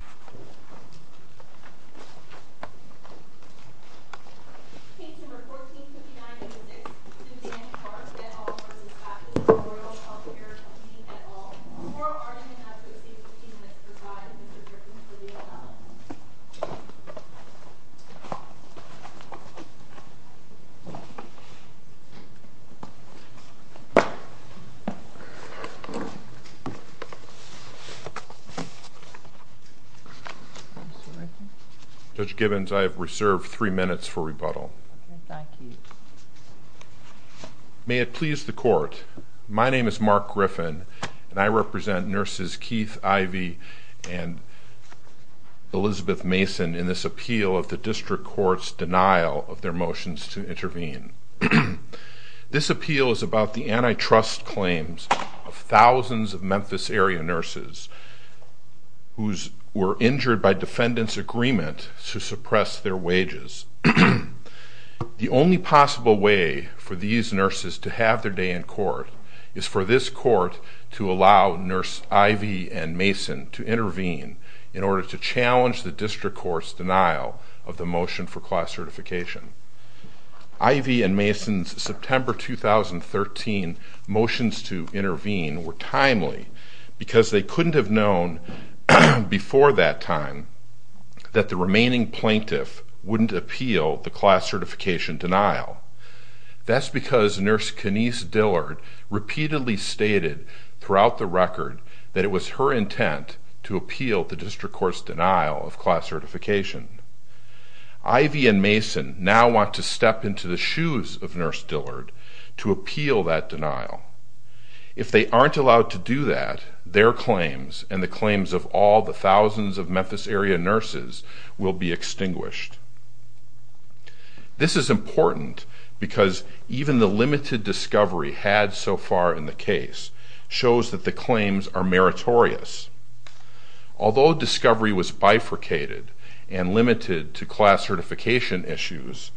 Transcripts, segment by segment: at all, or are you an associate of the team that provides Mr. Griffin for the allowance? Judge Gibbons, I have reserved three minutes for rebuttal. May it please the Court, my name is Mark Griffin, and I represent Nurses Keith, Ivy, and Elizabeth Mason in this appeal of the District Court's denial of their motions to intervene. This appeal is about the antitrust claims of thousands of Memphis area nurses who were injured by defendants' agreement to suppress their wages. The only possible way for these nurses to have their day in court is for this court to allow Nurse Ivy and Mason to intervene in order to challenge the District Court's denial of the motion for class certification. Ivy and Mason's September 2013 motions to intervene were timely because they couldn't have known before that time that the remaining plaintiff wouldn't appeal the class certification denial. That's because Nurse Kenise Dillard repeatedly stated throughout the record that it was her intent to appeal the District Court's denial of class certification. Ivy and Mason now want to step into the shoes of Nurse Dillard to appeal that denial. If they aren't allowed to do that, their claims and the claims of all the thousands of Memphis area nurses will be extinguished. This is important because even the limited discovery had so far in the case shows that the claims are meritorious. Although discovery was bifurcated and limited to class certification issues,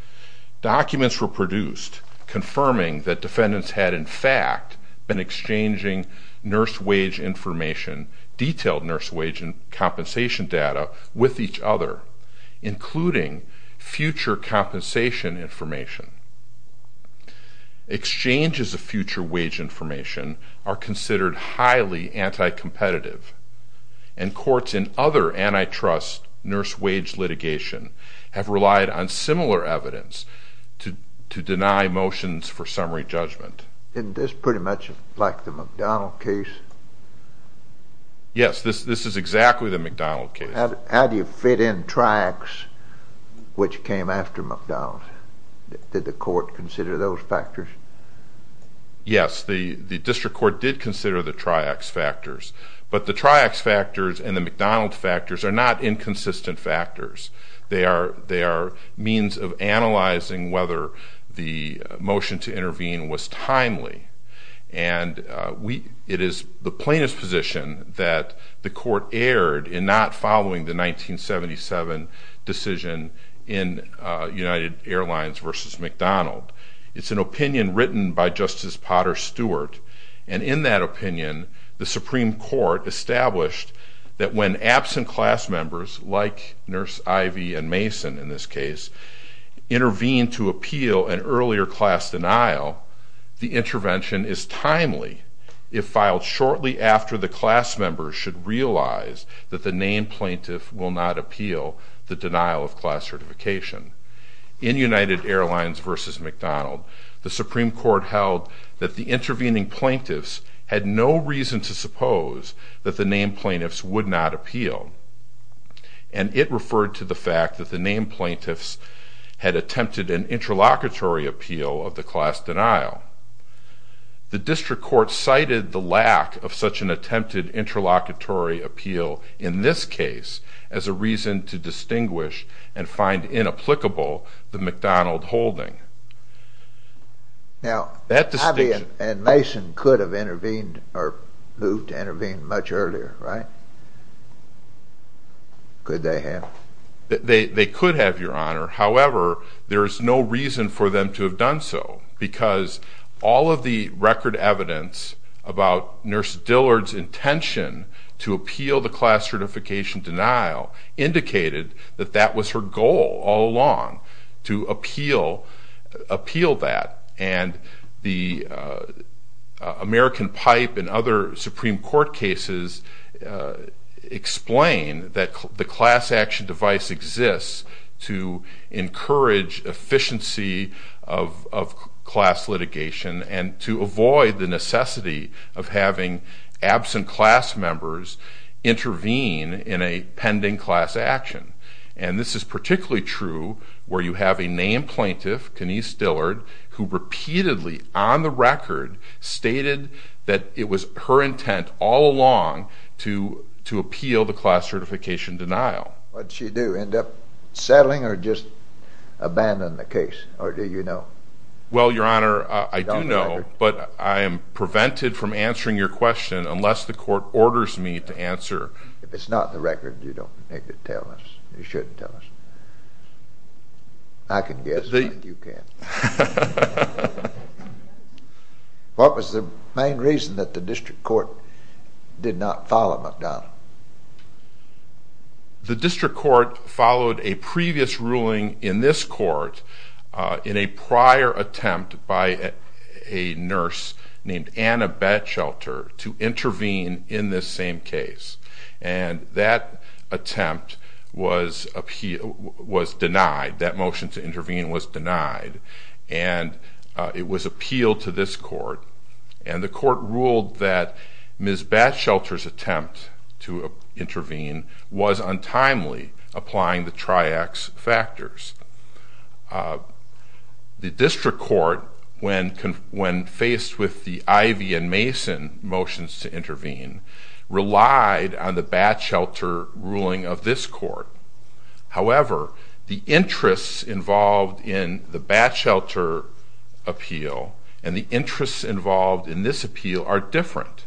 documents were produced confirming that defendants had in fact been exchanging nurse wage information, detailed nurse wage and compensation data, with each other, including future compensation information. Exchanges of future wage information are considered highly anti-competitive, and courts in other antitrust nurse wage litigation have relied on similar evidence to deny motions for summary judgment. Isn't this pretty much like the McDonald case? Yes, this is exactly the McDonald case. How do you fit in triax which came after McDonald? Did the court consider those factors? Yes, the District Court did consider the triax factors, but the triax factors and the McDonald factors are not inconsistent factors. They are means of analyzing whether the motion to intervene was timely, and it is the plaintiff's position that the court erred in not following the 1977 decision in United Airlines v. McDonald. It's an opinion written by Justice Potter Stewart, and in that opinion, the Supreme Court established that when absent class members, like Nurse Ivey and Mason in this case, intervene to appeal an earlier class denial, the intervention is timely if filed shortly after the class members should realize that the named plaintiff will not appeal the denial of class certification. In United Airlines v. McDonald, the Supreme Court held that the intervening plaintiffs had no reason to suppose that the named plaintiffs would not appeal, and it referred to the fact that the named plaintiffs had attempted an interlocutory appeal of the class denial. The District Court cited the lack of such an attempted interlocutory appeal in this case as a reason to distinguish and find inapplicable the McDonald holding. Now, Ivey and Mason could have intervened or moved to intervene much earlier, right? Could they have? They could have, Your Honor. However, there is no reason for them to have done so, because all of the record evidence about Nurse Dillard's intention to appeal the class certification denial indicated that that was her goal all along, to appeal that. And the American Pipe and other Supreme Court cases explain that the class action device exists to encourage efficiency of class litigation and to avoid the necessity of having absent class members intervene in a pending class action. And this is particularly true where you have a named plaintiff, Kenise Dillard, who repeatedly, on the record, stated that it was her intent all along to appeal the class certification denial. Would she do? End up settling or just abandon the case? Or do you know? Well, Your Honor, I do know, but I am prevented from answering your question unless the court orders me to answer. If it's not in the record, you don't need to tell us. You shouldn't tell us. I can guess, but you can't. What was the main reason that the District Court did not follow McDonald? The District Court followed a previous ruling in this court in a prior attempt by a nurse named Anna Batchelter to intervene in this same case. And that attempt was denied. That motion to intervene was denied. And it was appealed to this court. And the court ruled that Ms. Batchelter's attempt to intervene was untimely, applying the triax factors. The District Court, when faced with the Ivey and Mason motions to intervene, relied on the Batchelter ruling of this court. However, the interests involved in the Batchelter appeal and the interests involved in this appeal are different.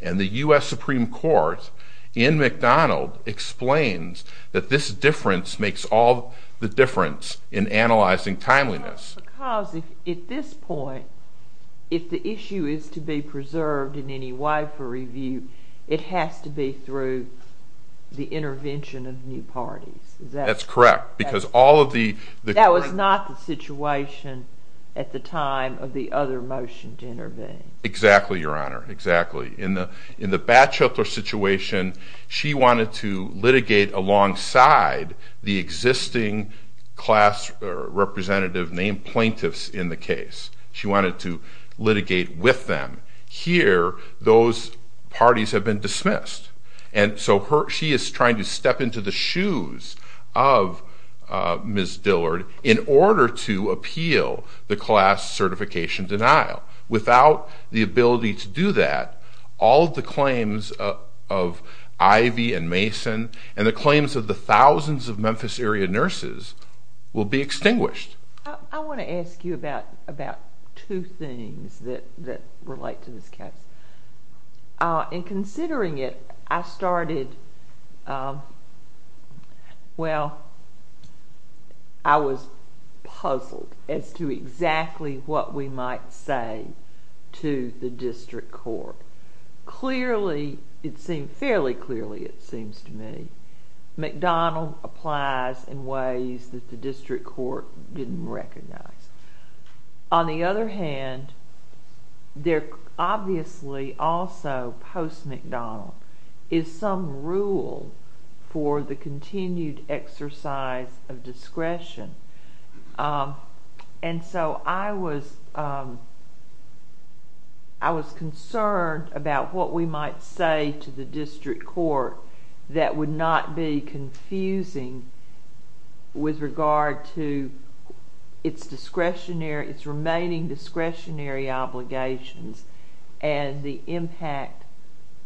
And the U.S. Supreme Court, in McDonald, explains that this difference makes all the difference in analyzing timeliness. But that's because, at this point, if the issue is to be preserved in any way for review, it has to be through the intervention of new parties. That's correct. That was not the situation at the time of the other motion to intervene. Exactly, Your Honor, exactly. In the Batchelter situation, she wanted to litigate alongside the existing class representative named plaintiffs in the case. She wanted to litigate with them. Here, those parties have been dismissed. And so she is trying to step into the shoes of Ms. Dillard in order to appeal the class certification denial. Without the ability to do that, all of the claims of Ivey and Mason and the claims of the thousands of Memphis-area nurses will be extinguished. I want to ask you about two things that relate to this case. In considering it, I started, well, I was puzzled as to exactly what we might say to the district court. Clearly, it seemed fairly clearly, it seems to me, McDonald applies in ways that the district court didn't recognize. On the other hand, there obviously also, post-McDonald, is some rule for the continued exercise of discretion. And so I was concerned about what we might say to the district court that would not be confusing with regard to its remaining discretionary obligations and the impact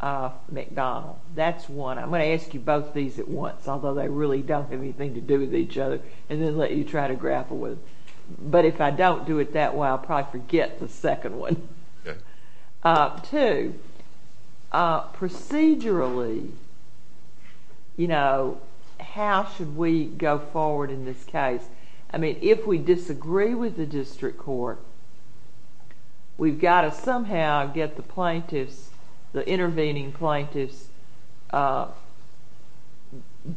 of McDonald. That's one. I'm going to ask you both these at once, although they really don't have anything to do with each other, and then let you try to grapple with them. But if I don't do it that way, I'll probably forget the second one. Two, procedurally, how should we go forward in this case? I mean, if we disagree with the district court, we've got to somehow get the plaintiffs, the intervening plaintiffs'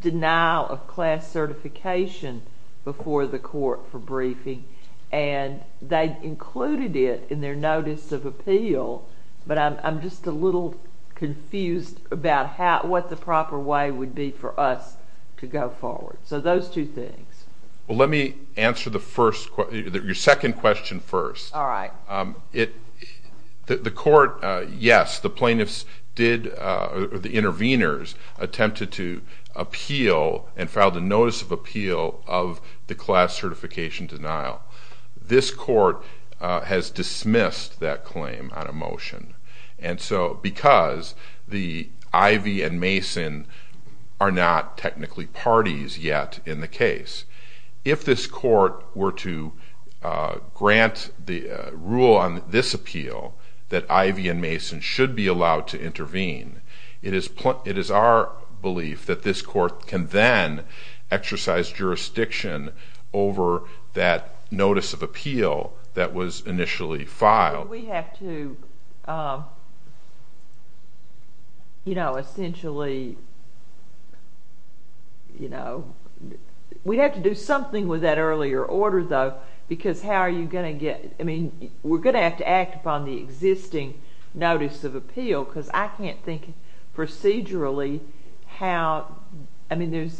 denial of class certification before the court for briefing. And they included it in their notice of appeal, but I'm just a little confused about what the proper way would be for us to go forward. So those two things. Well, let me answer your second question first. All right. The court, yes, the plaintiffs did, or the interveners, attempted to appeal and filed a notice of appeal of the class certification denial. This court has dismissed that claim on a motion. And so because the Ivy and Mason are not technically parties yet in the case, if this court were to grant the rule on this appeal that Ivy and Mason should be allowed to intervene, it is our belief that this court can then exercise jurisdiction over that notice of appeal that was initially filed. But we have to, you know, essentially, you know, we have to do something with that earlier order, though, because how are you going to get – I mean, we're going to have to act upon the existing notice of appeal because I can't think procedurally how – I mean,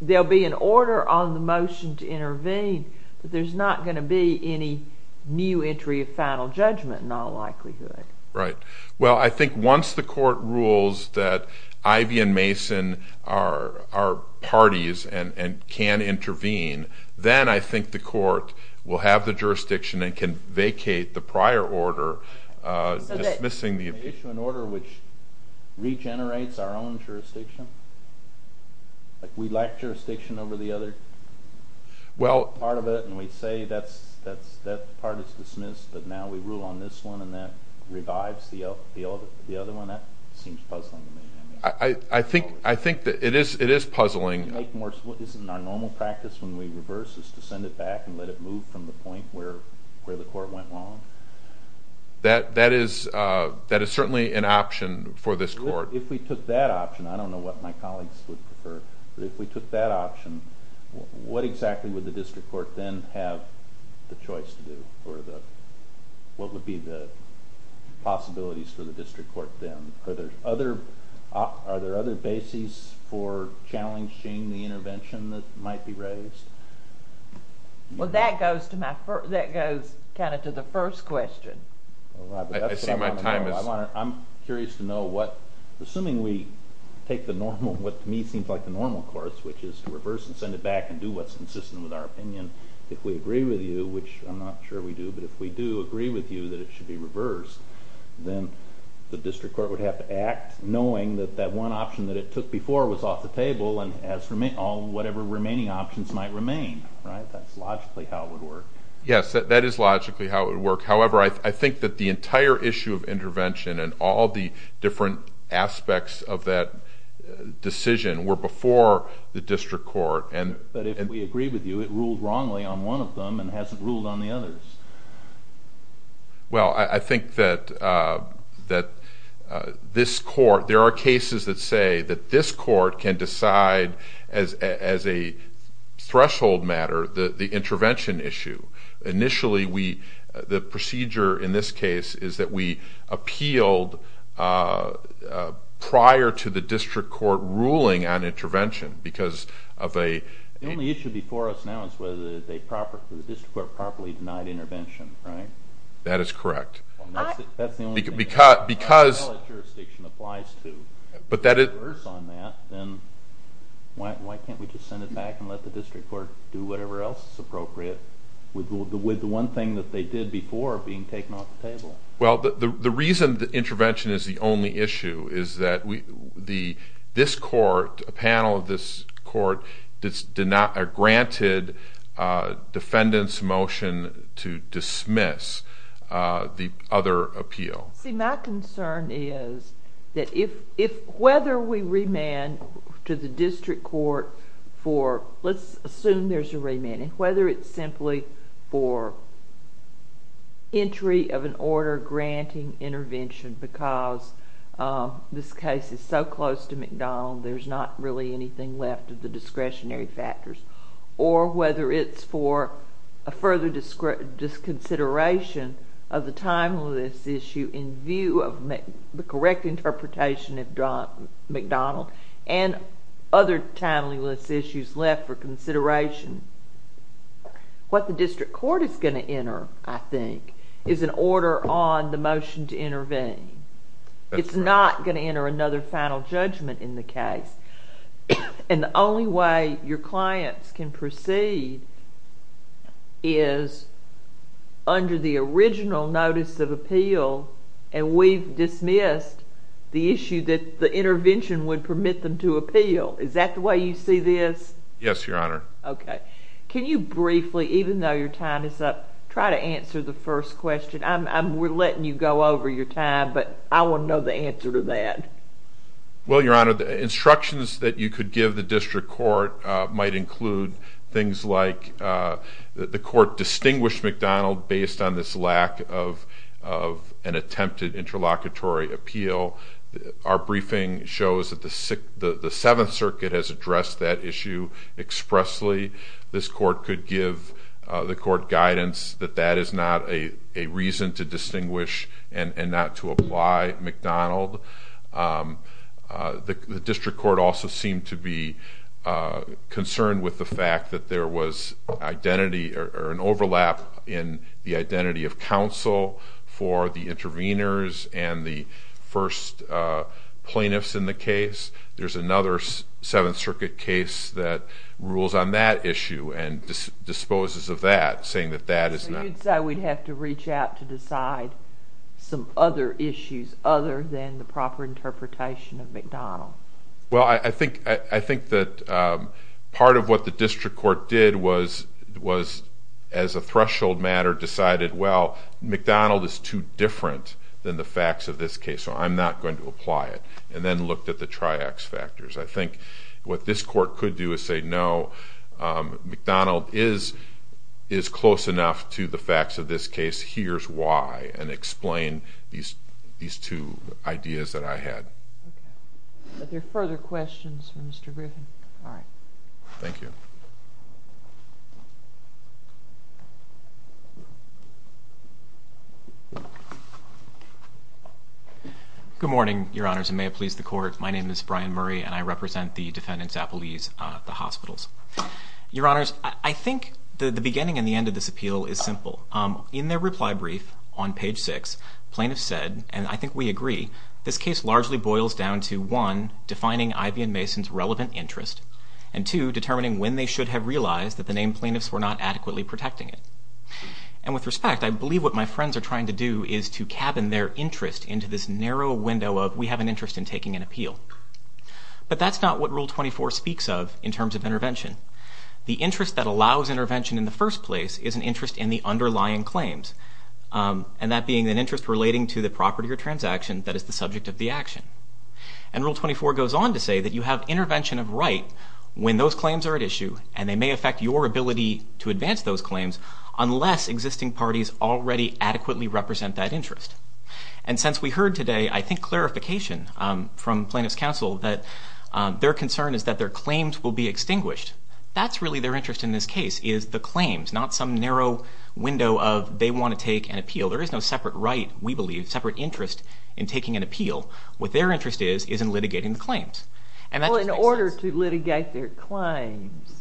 there'll be an order on the motion to intervene, but there's not going to be any new entry of final judgment in all likelihood. Right. Well, I think once the court rules that Ivy and Mason are parties and can intervene, then I think the court will have the jurisdiction and can vacate the prior order dismissing the appeal. Is there an issue, an order which regenerates our own jurisdiction? Like we lack jurisdiction over the other part of it and we say that part is dismissed, but now we rule on this one and that revives the other one? That seems puzzling to me. I think that it is puzzling. Isn't our normal practice when we reverse is to send it back and let it move from the point where the court went wrong? That is certainly an option for this court. If we took that option, I don't know what my colleagues would prefer, but if we took that option, what exactly would the district court then have the choice to do? What would be the possibilities for the district court then? Are there other bases for challenging the intervention that might be raised? Well, that goes to the first question. I'm curious to know what, assuming we take what to me seems like the normal course, which is to reverse and send it back and do what's consistent with our opinion, if we agree with you, which I'm not sure we do, but if we do agree with you that it should be reversed, then the district court would have to act knowing that that one option that it took before was off the table and whatever remaining options might remain. That's logically how it would work. Yes, that is logically how it would work. However, I think that the entire issue of intervention and all the different aspects of that decision were before the district court. But if we agree with you, it ruled wrongly on one of them and hasn't ruled on the others. Well, I think that this court, there are cases that say that this court can decide as a threshold matter the intervention issue. Initially, the procedure in this case is that we appealed prior to the district court ruling on intervention because of a... The only issue before us now is whether the district court properly denied intervention, right? That is correct. That's the only thing. Because... That's all that jurisdiction applies to. But that is... If it's reversed on that, then why can't we just send it back and let the district court do whatever else is appropriate with the one thing that they did before being taken off the table? Well, the reason that intervention is the only issue is that this court, a panel of this court, granted defendants' motion to dismiss the other appeal. See, my concern is that if... Whether we remand to the district court for... Let's assume there's a remand. And whether it's simply for entry of an order granting intervention because this case is so close to McDonald, there's not really anything left of the discretionary factors. Or whether it's for a further disconsideration of the timeless issue in view of the correct interpretation of McDonald and other timeless issues left for consideration. What the district court is going to enter, I think, is an order on the motion to intervene. That's right. It's not going to enter another final judgment in the case. And the only way your clients can proceed is under the original notice of appeal, and we've dismissed the issue that the intervention would permit them to appeal. Is that the way you see this? Yes, Your Honor. Okay. Can you briefly, even though your time is up, try to answer the first question? We're letting you go over your time, but I want to know the answer to that. Well, Your Honor, the instructions that you could give the district court might include things like the court distinguished McDonald based on this lack of an attempted interlocutory appeal. Our briefing shows that the Seventh Circuit has addressed that issue expressly. This court could give the court guidance that that is not a reason to distinguish and not to apply McDonald. The district court also seemed to be concerned with the fact that there was identity or an overlap in the identity of counsel for the interveners and the first plaintiffs in the case. There's another Seventh Circuit case that rules on that issue and disposes of that, saying that that is not... So you'd say we'd have to reach out to decide some other issues other than the proper interpretation of McDonald? Well, I think that part of what the district court did was, as a threshold matter, decided, well, McDonald is too different than the facts of this case, so I'm not going to apply it, and then looked at the triax factors. I think what this court could do is say, no, McDonald is close enough to the facts of this case. Here's why, and explain these two ideas that I had. Are there further questions for Mr. Griffin? All right. Thank you. Good morning, Your Honors, and may it please the Court. My name is Brian Murray, and I represent the defendants' appellees at the hospitals. Your Honors, I think the beginning and the end of this appeal is simple. In their reply brief on page 6, plaintiffs said, and I think we agree, this case largely boils down to, one, defining Ivy and Mason's relevant interest, and, two, determining when they should have realized that the named plaintiffs were not adequately protecting it. And with respect, I believe what my friends are trying to do is to cabin their interest into this narrow window of, we have an interest in taking an appeal. But that's not what Rule 24 speaks of in terms of intervention. The interest that allows intervention in the first place is an interest in the underlying claims, and that being an interest relating to the property or transaction that is the subject of the action. And Rule 24 goes on to say that you have intervention of right when those claims are at issue, and they may affect your ability to advance those claims unless existing parties already adequately represent that interest. And since we heard today, I think, clarification from plaintiffs' counsel that their concern is that their claims will be extinguished. That's really their interest in this case is the claims, not some narrow window of they want to take an appeal. There is no separate right, we believe, separate interest in taking an appeal. What their interest is is in litigating the claims. And that just makes sense. Well, in order to litigate their claims,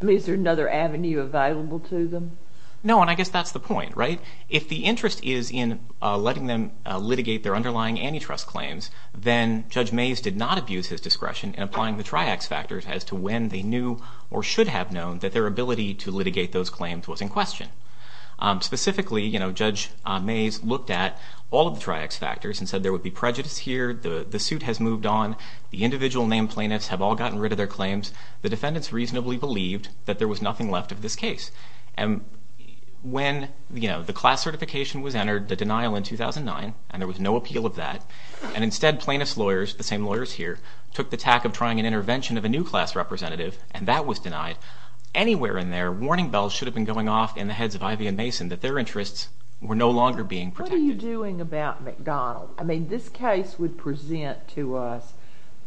is there another avenue available to them? No, and I guess that's the point, right? If the interest is in letting them litigate their underlying antitrust claims, then Judge Mays did not abuse his discretion in applying the triax factors as to when they knew or should have known that their ability to litigate those claims was in question. Specifically, Judge Mays looked at all of the triax factors and said there would be prejudice here, the suit has moved on, the individual named plaintiffs have all gotten rid of their claims. The defendants reasonably believed that there was nothing left of this case. And when the class certification was entered, the denial in 2009, and there was no appeal of that, and instead plaintiffs' lawyers, the same lawyers here, took the tack of trying an intervention of a new class representative, and that was denied. Anywhere in there, warning bells should have been going off in the heads of Ivey and Mason that their interests were no longer being protected. What are you doing about McDonald? I mean, this case would present to us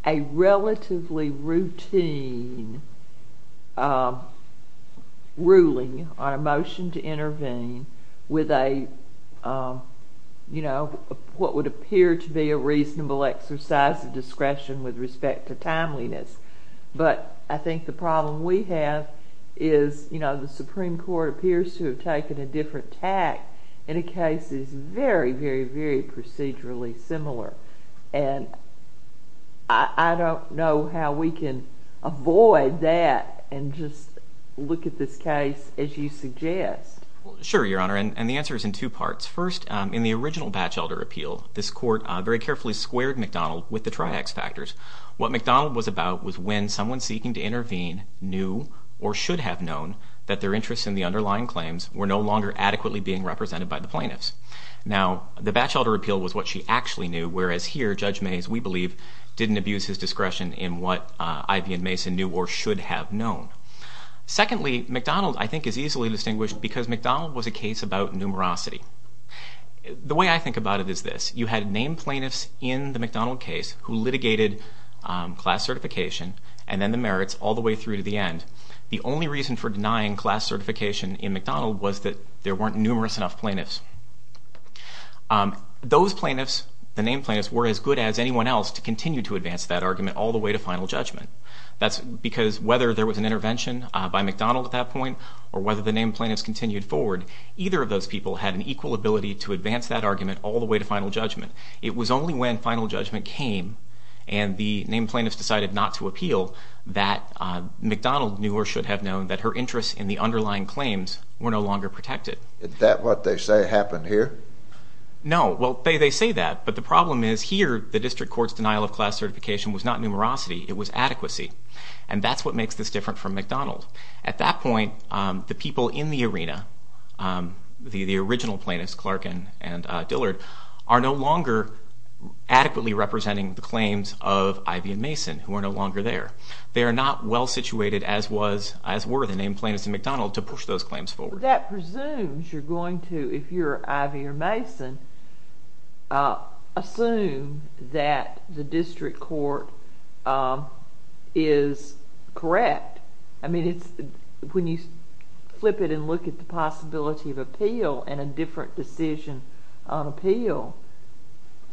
a relatively routine ruling on a motion to intervene with what would appear to be a reasonable exercise of discretion with respect to timeliness. But I think the problem we have is, you know, the Supreme Court appears to have taken a different tack in a case that is very, very, very procedurally similar. And I don't know how we can avoid that and just look at this case as you suggest. Sure, Your Honor, and the answer is in two parts. First, in the original Batchelder appeal, this court very carefully squared McDonald with the triax factors. What McDonald was about was when someone seeking to intervene knew or should have known that their interests in the underlying claims were no longer adequately being represented by the plaintiffs. Now, the Batchelder appeal was what she actually knew, whereas here, Judge Mays, we believe, didn't abuse his discretion in what Ivey and Mason knew or should have known. Secondly, McDonald, I think, is easily distinguished because McDonald was a case about numerosity. The way I think about it is this. You had named plaintiffs in the McDonald case who litigated class certification and then the merits all the way through to the end. The only reason for denying class certification in McDonald was that there weren't numerous enough plaintiffs. Those plaintiffs, the named plaintiffs, were as good as anyone else to continue to advance that argument all the way to final judgment. That's because whether there was an intervention by McDonald at that point or whether the named plaintiffs continued forward, either of those people had an equal ability to advance that argument all the way to final judgment. It was only when final judgment came and the named plaintiffs decided not to appeal that McDonald knew or should have known that her interests in the underlying claims were no longer protected. Is that what they say happened here? No. Well, they say that, but the problem is here the district court's denial of class certification was not numerosity. It was adequacy, and that's what makes this different from McDonald. At that point, the people in the arena, the original plaintiffs, Clark and Dillard, are no longer adequately representing the claims of Ivey and Mason, who are no longer there. They are not well-situated, as were the named plaintiffs in McDonald, to push those claims forward. That presumes you're going to, if you're Ivey or Mason, assume that the district court is correct. I mean, when you flip it and look at the possibility of appeal and a different decision on appeal,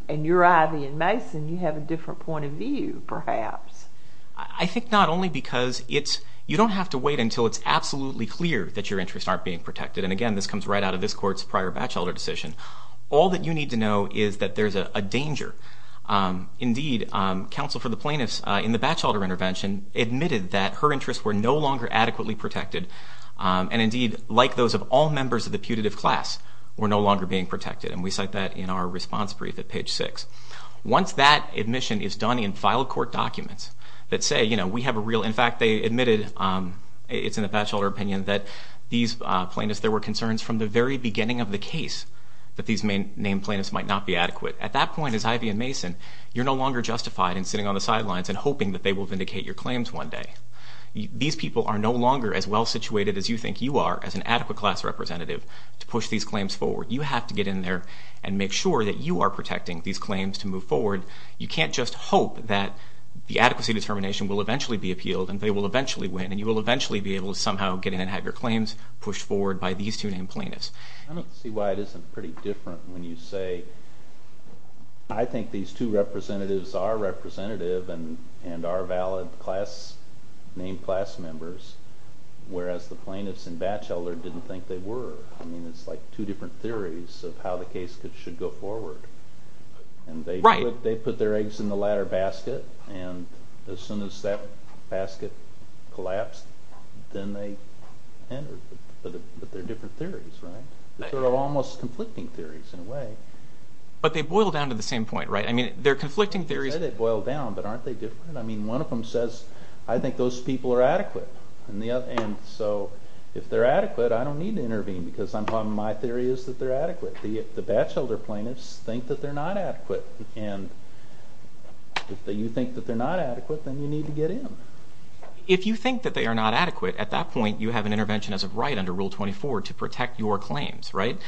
and you're Ivey and Mason, you have a different point of view, perhaps. I think not only because you don't have to wait until it's absolutely clear that your interests aren't being protected, and, again, this comes right out of this court's prior Batchelder decision. All that you need to know is that there's a danger. Indeed, counsel for the plaintiffs in the Batchelder intervention admitted that her interests were no longer adequately protected, and, indeed, like those of all members of the putative class, were no longer being protected. And we cite that in our response brief at page 6. Once that admission is done in filed court documents that say, you know, we have a real—in fact, they admitted, it's in the Batchelder opinion, that these plaintiffs, there were concerns from the very beginning of the case that these named plaintiffs might not be adequate. At that point, as Ivey and Mason, you're no longer justified in sitting on the sidelines and hoping that they will vindicate your claims one day. These people are no longer as well-situated as you think you are as an adequate class representative to push these claims forward. You have to get in there and make sure that you are protecting these claims to move forward. You can't just hope that the adequacy determination will eventually be appealed, and they will eventually win, and you will eventually be able to somehow get in and have your claims pushed forward by these two named plaintiffs. I don't see why it isn't pretty different when you say I think these two representatives are representative and are valid class—named class members, whereas the plaintiffs in Batchelder didn't think they were. I mean it's like two different theories of how the case should go forward. And they put their eggs in the latter basket, and as soon as that basket collapsed, then they entered. But they're different theories, right? They're almost conflicting theories in a way. But they boil down to the same point, right? I mean they're conflicting theories— You said they boil down, but aren't they different? I mean one of them says I think those people are adequate, and so if they're adequate, I don't need to intervene because my theory is that they're adequate. The Batchelder plaintiffs think that they're not adequate, and if you think that they're not adequate, then you need to get in. If you think that they are not adequate, at that point you have an intervention as a right under Rule 24 to protect your claims, right?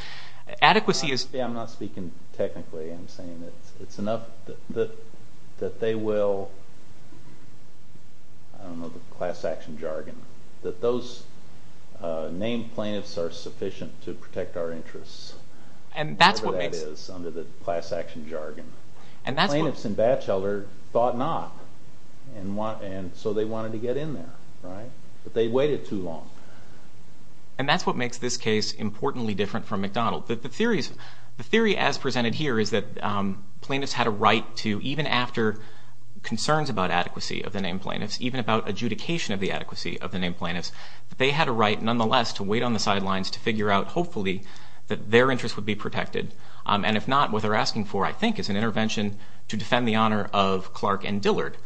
Adequacy is— I'm not speaking technically. I'm saying it's enough that they will—I don't know the class action jargon— that those named plaintiffs are sufficient to protect our interests, whatever that is under the class action jargon. Plaintiffs in Batchelder thought not, and so they wanted to get in there, right? But they waited too long. And that's what makes this case importantly different from McDonald. The theory as presented here is that plaintiffs had a right to, even after concerns about adequacy of the named plaintiffs, even about adjudication of the adequacy of the named plaintiffs, they had a right nonetheless to wait on the sidelines to figure out, hopefully, that their interests would be protected. And if not, what they're asking for, I think, is an intervention to defend the honor of Clark and Dillard.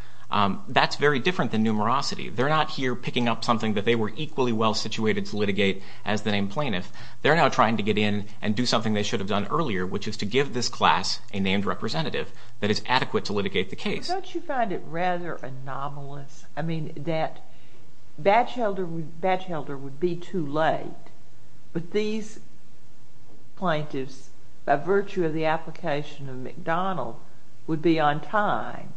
That's very different than numerosity. They're not here picking up something that they were equally well situated to litigate as the named plaintiff. They're now trying to get in and do something they should have done earlier, which is to give this class a named representative that is adequate to litigate the case. Don't you find it rather anomalous, I mean, that Batchelder would be too late, but these plaintiffs, by virtue of the application of McDonald, would be on time?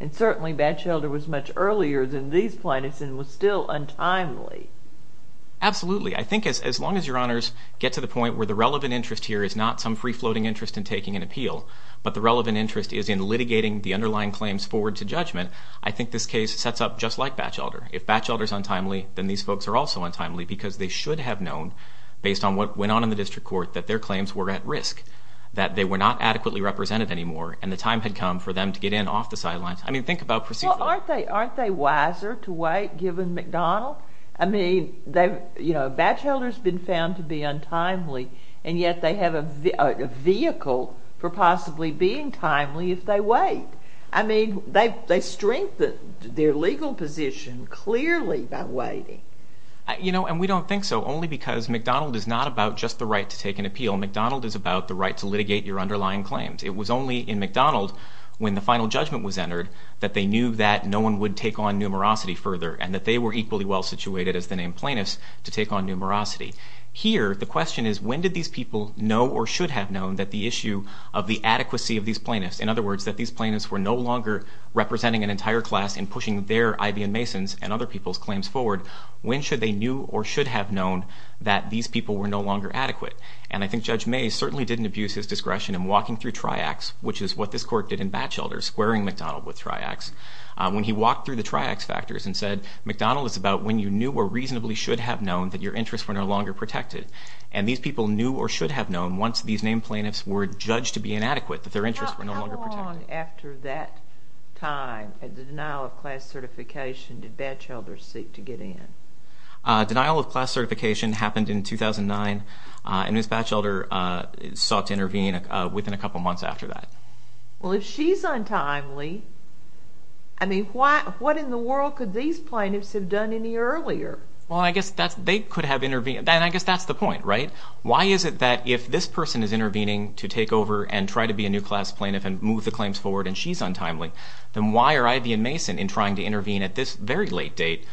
And certainly Batchelder was much earlier than these plaintiffs and was still untimely. Absolutely. I think as long as your honors get to the point where the relevant interest here is not some free-floating interest in taking an appeal, but the relevant interest is in litigating the underlying claims forward to judgment, I think this case sets up just like Batchelder. If Batchelder's untimely, then these folks are also untimely because they should have known, based on what went on in the district court, that their claims were at risk, that they were not adequately represented anymore, and the time had come for them to get in off the sidelines. I mean, think about procedure. Well, aren't they wiser to wait, given McDonald? I mean, Batchelder's been found to be untimely, and yet they have a vehicle for possibly being timely if they wait. I mean, they strengthened their legal position clearly by waiting. You know, and we don't think so, only because McDonald is not about just the right to take an appeal. McDonald is about the right to litigate your underlying claims. It was only in McDonald, when the final judgment was entered, that they knew that no one would take on numerosity further and that they were equally well-situated as the named plaintiffs to take on numerosity. Here, the question is, when did these people know or should have known that the issue of the adequacy of these plaintiffs, in other words, that these plaintiffs were no longer representing an entire class in pushing their IBM Mason's and other people's claims forward, when should they knew or should have known that these people were no longer adequate? And I think Judge Mays certainly didn't abuse his discretion in walking through TRIACS, which is what this court did in Batchelder, squaring McDonald with TRIACS, when he walked through the TRIACS factors and said, McDonald is about when you knew or reasonably should have known that your interests were no longer protected. And these people knew or should have known, once these named plaintiffs were judged to be inadequate, that their interests were no longer protected. How long after that time, at the denial of class certification, did Batchelder seek to get in? Denial of class certification happened in 2009, and Ms. Batchelder sought to intervene within a couple of months after that. Well, if she's untimely, I mean, what in the world could these plaintiffs have done any earlier? Well, I guess they could have intervened, and I guess that's the point, right? Why is it that if this person is intervening to take over and try to be a new class plaintiff and move the claims forward, and she's untimely, then why are Ivey and Mason, in trying to intervene at this very late date,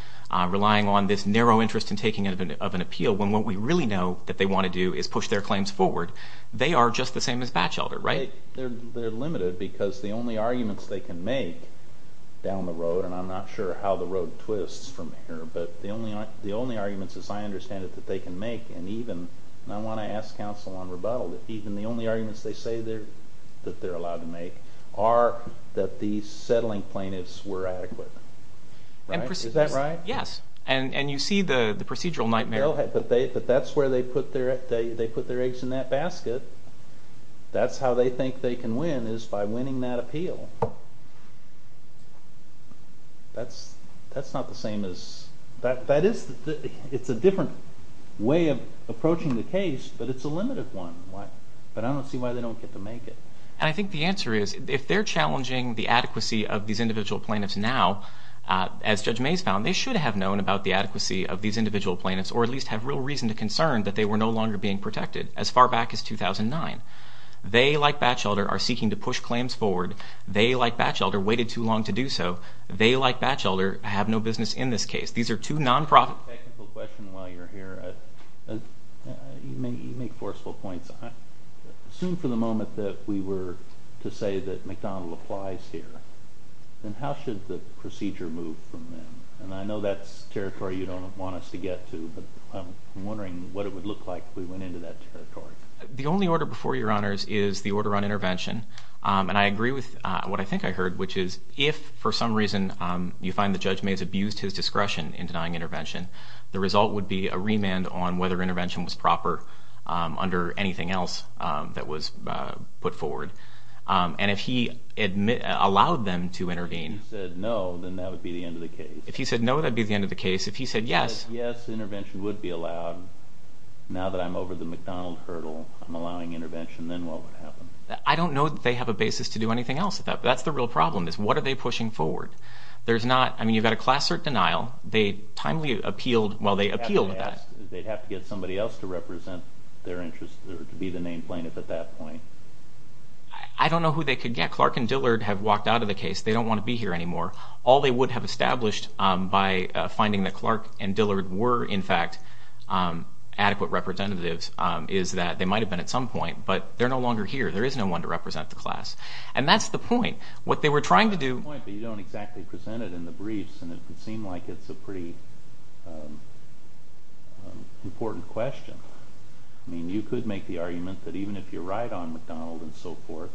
relying on this narrow interest in taking of an appeal, when what we really know that they want to do is push their claims forward? They are just the same as Batchelder, right? They're limited because the only arguments they can make down the road, and I'm not sure how the road twists from here, but the only arguments, as I understand it, that they can make, and even I want to ask counsel on rebuttal, that even the only arguments they say that they're allowed to make are that the settling plaintiffs were adequate, right? Is that right? Yes, and you see the procedural nightmare. But that's where they put their eggs in that basket. That's how they think they can win, is by winning that appeal. That's not the same as – that is – it's a different way of approaching the case, but it's a limited one. But I don't see why they don't get to make it. And I think the answer is, if they're challenging the adequacy of these individual plaintiffs now, as Judge Mayes found, they should have known about the adequacy of these individual plaintiffs, or at least have real reason to concern that they were no longer being protected, as far back as 2009. They, like Batchelder, are seeking to push claims forward. They, like Batchelder, waited too long to do so. They, like Batchelder, have no business in this case. These are two non-profit – I have a technical question while you're here. You make forceful points. Assume for the moment that we were to say that McDonald applies here, then how should the procedure move from then? And I know that's territory you don't want us to get to, but I'm wondering what it would look like if we went into that territory. The only order before Your Honors is the order on intervention. And I agree with what I think I heard, which is if, for some reason, you find the judge may have abused his discretion in denying intervention, the result would be a remand on whether intervention was proper under anything else that was put forward. And if he allowed them to intervene— If he said no, then that would be the end of the case. If he said no, that would be the end of the case. If he said yes— If he said yes, intervention would be allowed. Now that I'm over the McDonald hurdle, I'm allowing intervention, then what would happen? I don't know that they have a basis to do anything else. That's the real problem, is what are they pushing forward? There's not—I mean, you've got a class cert denial. They timely appealed—well, they appealed to that. They'd have to get somebody else to represent their interests or to be the name plaintiff at that point. I don't know who they could get. Clark and Dillard have walked out of the case. They don't want to be here anymore. All they would have established by finding that Clark and Dillard were, in fact, adequate representatives is that they might have been at some point, but they're no longer here. There is no one to represent the class. And that's the point. What they were trying to do— That's the point, but you don't exactly present it in the briefs, and it would seem like it's a pretty important question. I mean, you could make the argument that even if you're right on McDonald and so forth,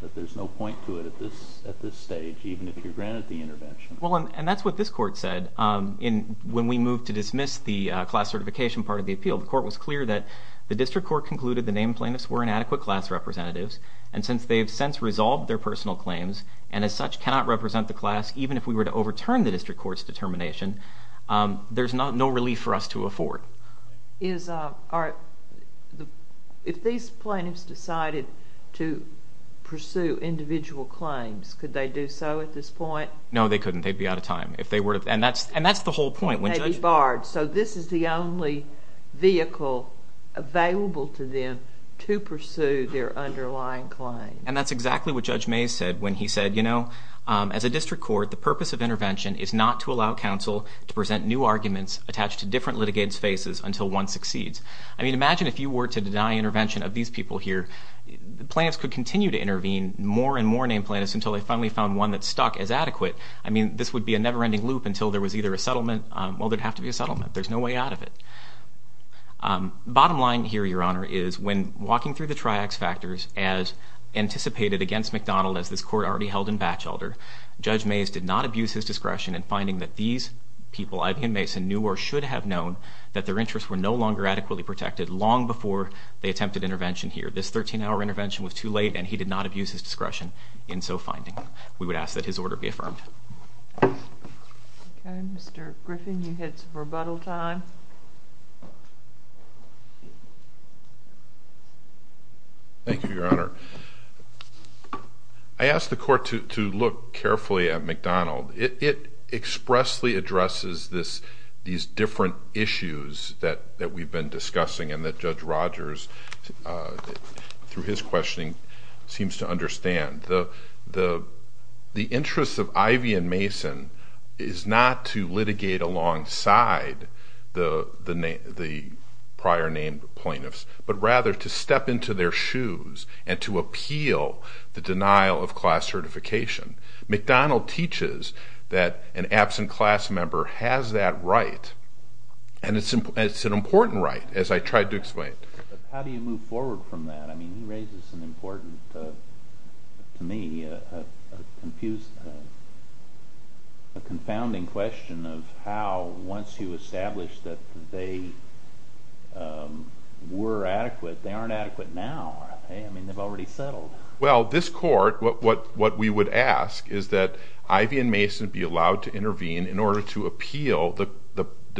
that there's no point to it at this stage, even if you're granted the intervention. Well, and that's what this court said when we moved to dismiss the class certification part of the appeal. The court was clear that the district court concluded the name plaintiffs were inadequate class representatives, and since they have since resolved their personal claims and as such cannot represent the class, even if we were to overturn the district court's determination, there's no relief for us to afford. If these plaintiffs decided to pursue individual claims, could they do so at this point? No, they couldn't. They'd be out of time. And that's the whole point. They'd be barred. So this is the only vehicle available to them to pursue their underlying claims. And that's exactly what Judge Mays said when he said, you know, as a district court, the purpose of intervention is not to allow counsel to present new arguments attached to different litigants' faces until one succeeds. I mean, imagine if you were to deny intervention of these people here. The plaintiffs could continue to intervene, more and more name plaintiffs, until they finally found one that stuck as adequate. I mean, this would be a never-ending loop until there was either a settlement. Well, there'd have to be a settlement. There's no way out of it. Bottom line here, Your Honor, is when walking through the triax factors as anticipated against McDonald as this court already held in Batchelder, Judge Mays did not abuse his discretion in finding that these people, Ivan and Mason, knew or should have known that their interests were no longer adequately protected long before they attempted intervention here. This 13-hour intervention was too late, and he did not abuse his discretion in so finding. We would ask that his order be affirmed. Okay, Mr. Griffin, you had some rebuttal time. Thank you, Your Honor. I asked the court to look carefully at McDonald. It expressly addresses these different issues that we've been discussing and that Judge Rogers, through his questioning, seems to understand. The interest of Ivy and Mason is not to litigate alongside the prior named plaintiffs, but rather to step into their shoes and to appeal the denial of class certification. McDonald teaches that an absent class member has that right, and it's an important right, as I tried to explain. How do you move forward from that? I mean, he raises an important, to me, a confounding question of how, once you establish that they were adequate, they aren't adequate now. I mean, they've already settled. Well, this court, what we would ask is that Ivy and Mason be allowed to intervene in order to appeal the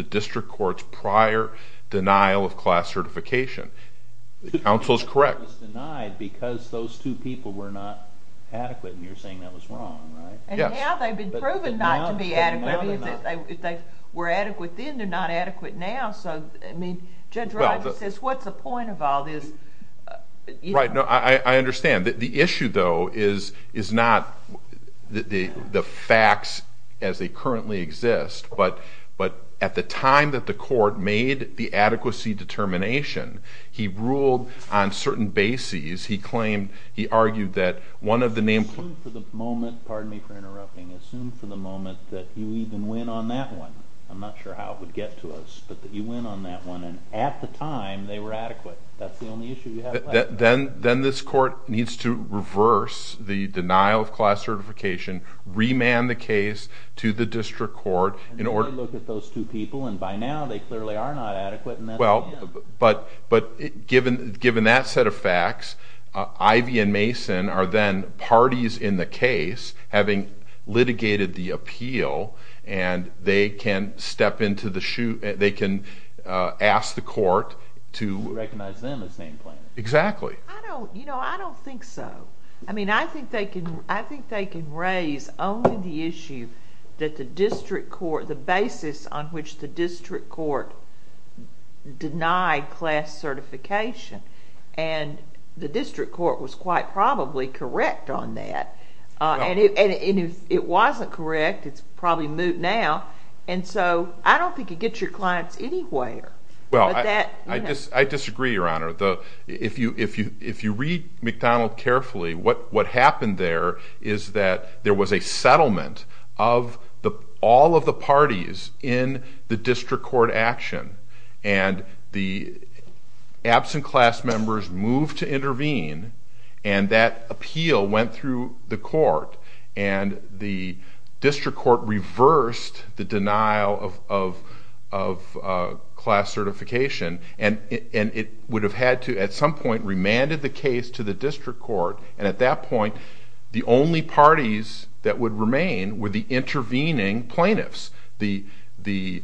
district court's prior denial of class certification. The counsel is correct. It was denied because those two people were not adequate, and you're saying that was wrong, right? And now they've been proven not to be adequate. If they were adequate then, they're not adequate now, so Judge Rogers says, what's the point of all this? Right, I understand. The issue, though, is not the facts as they currently exist, but at the time that the court made the adequacy determination, he ruled on certain bases. He argued that one of the named plaintiffs... Assume for the moment, pardon me for interrupting, assume for the moment that you even win on that one. I'm not sure how it would get to us, but that you win on that one, and at the time they were adequate. That's the only issue you have left. Then this court needs to reverse the denial of class certification, remand the case to the district court... And then they look at those two people, and by now they clearly are not adequate, and that's the end. But given that set of facts, Ivy and Mason are then parties in the case, having litigated the appeal, and they can ask the court to... Recognize them as named plaintiffs. Exactly. I don't think so. I think they can raise only the issue that the district court, the basis on which the district court denied class certification, and the district court was quite probably correct on that. And if it wasn't correct, it's probably moot now, and so I don't think it gets your clients anywhere. Well, I disagree, Your Honor. If you read McDonald carefully, what happened there is that there was a settlement of all of the parties in the district court action, and the absent class members moved to intervene, and that appeal went through the court, and the district court reversed the denial of class certification, and it would have had to, at some point, remanded the case to the district court, and at that point the only parties that would remain were the intervening plaintiffs. The named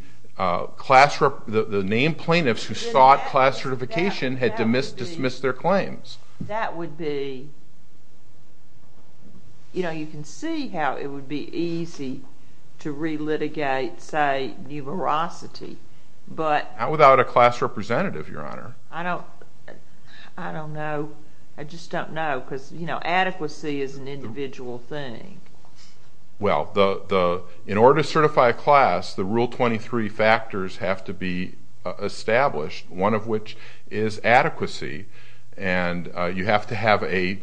plaintiffs who sought class certification had to dismiss their claims. That would be... You know, you can see how it would be easy to re-litigate, say, numerosity, but... Not without a class representative, Your Honor. I don't know. I just don't know, because, you know, adequacy is an individual thing. Well, in order to certify a class, the Rule 23 factors have to be established, one of which is adequacy, and you have to have a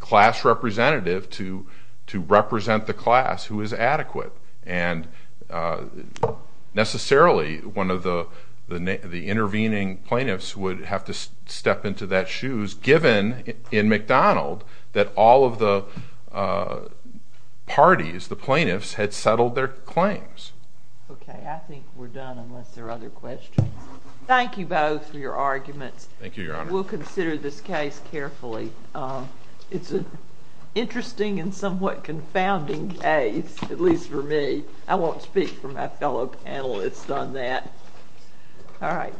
class representative to represent the class who is adequate, and necessarily one of the intervening plaintiffs would have to step into that shoes, given in McDonald that all of the parties, the plaintiffs, had settled their claims. Okay, I think we're done unless there are other questions. Thank you both for your arguments. Thank you, Your Honor. We'll consider this case carefully. It's an interesting and somewhat confounding case, at least for me. I won't speak for my fellow panelists on that. All right.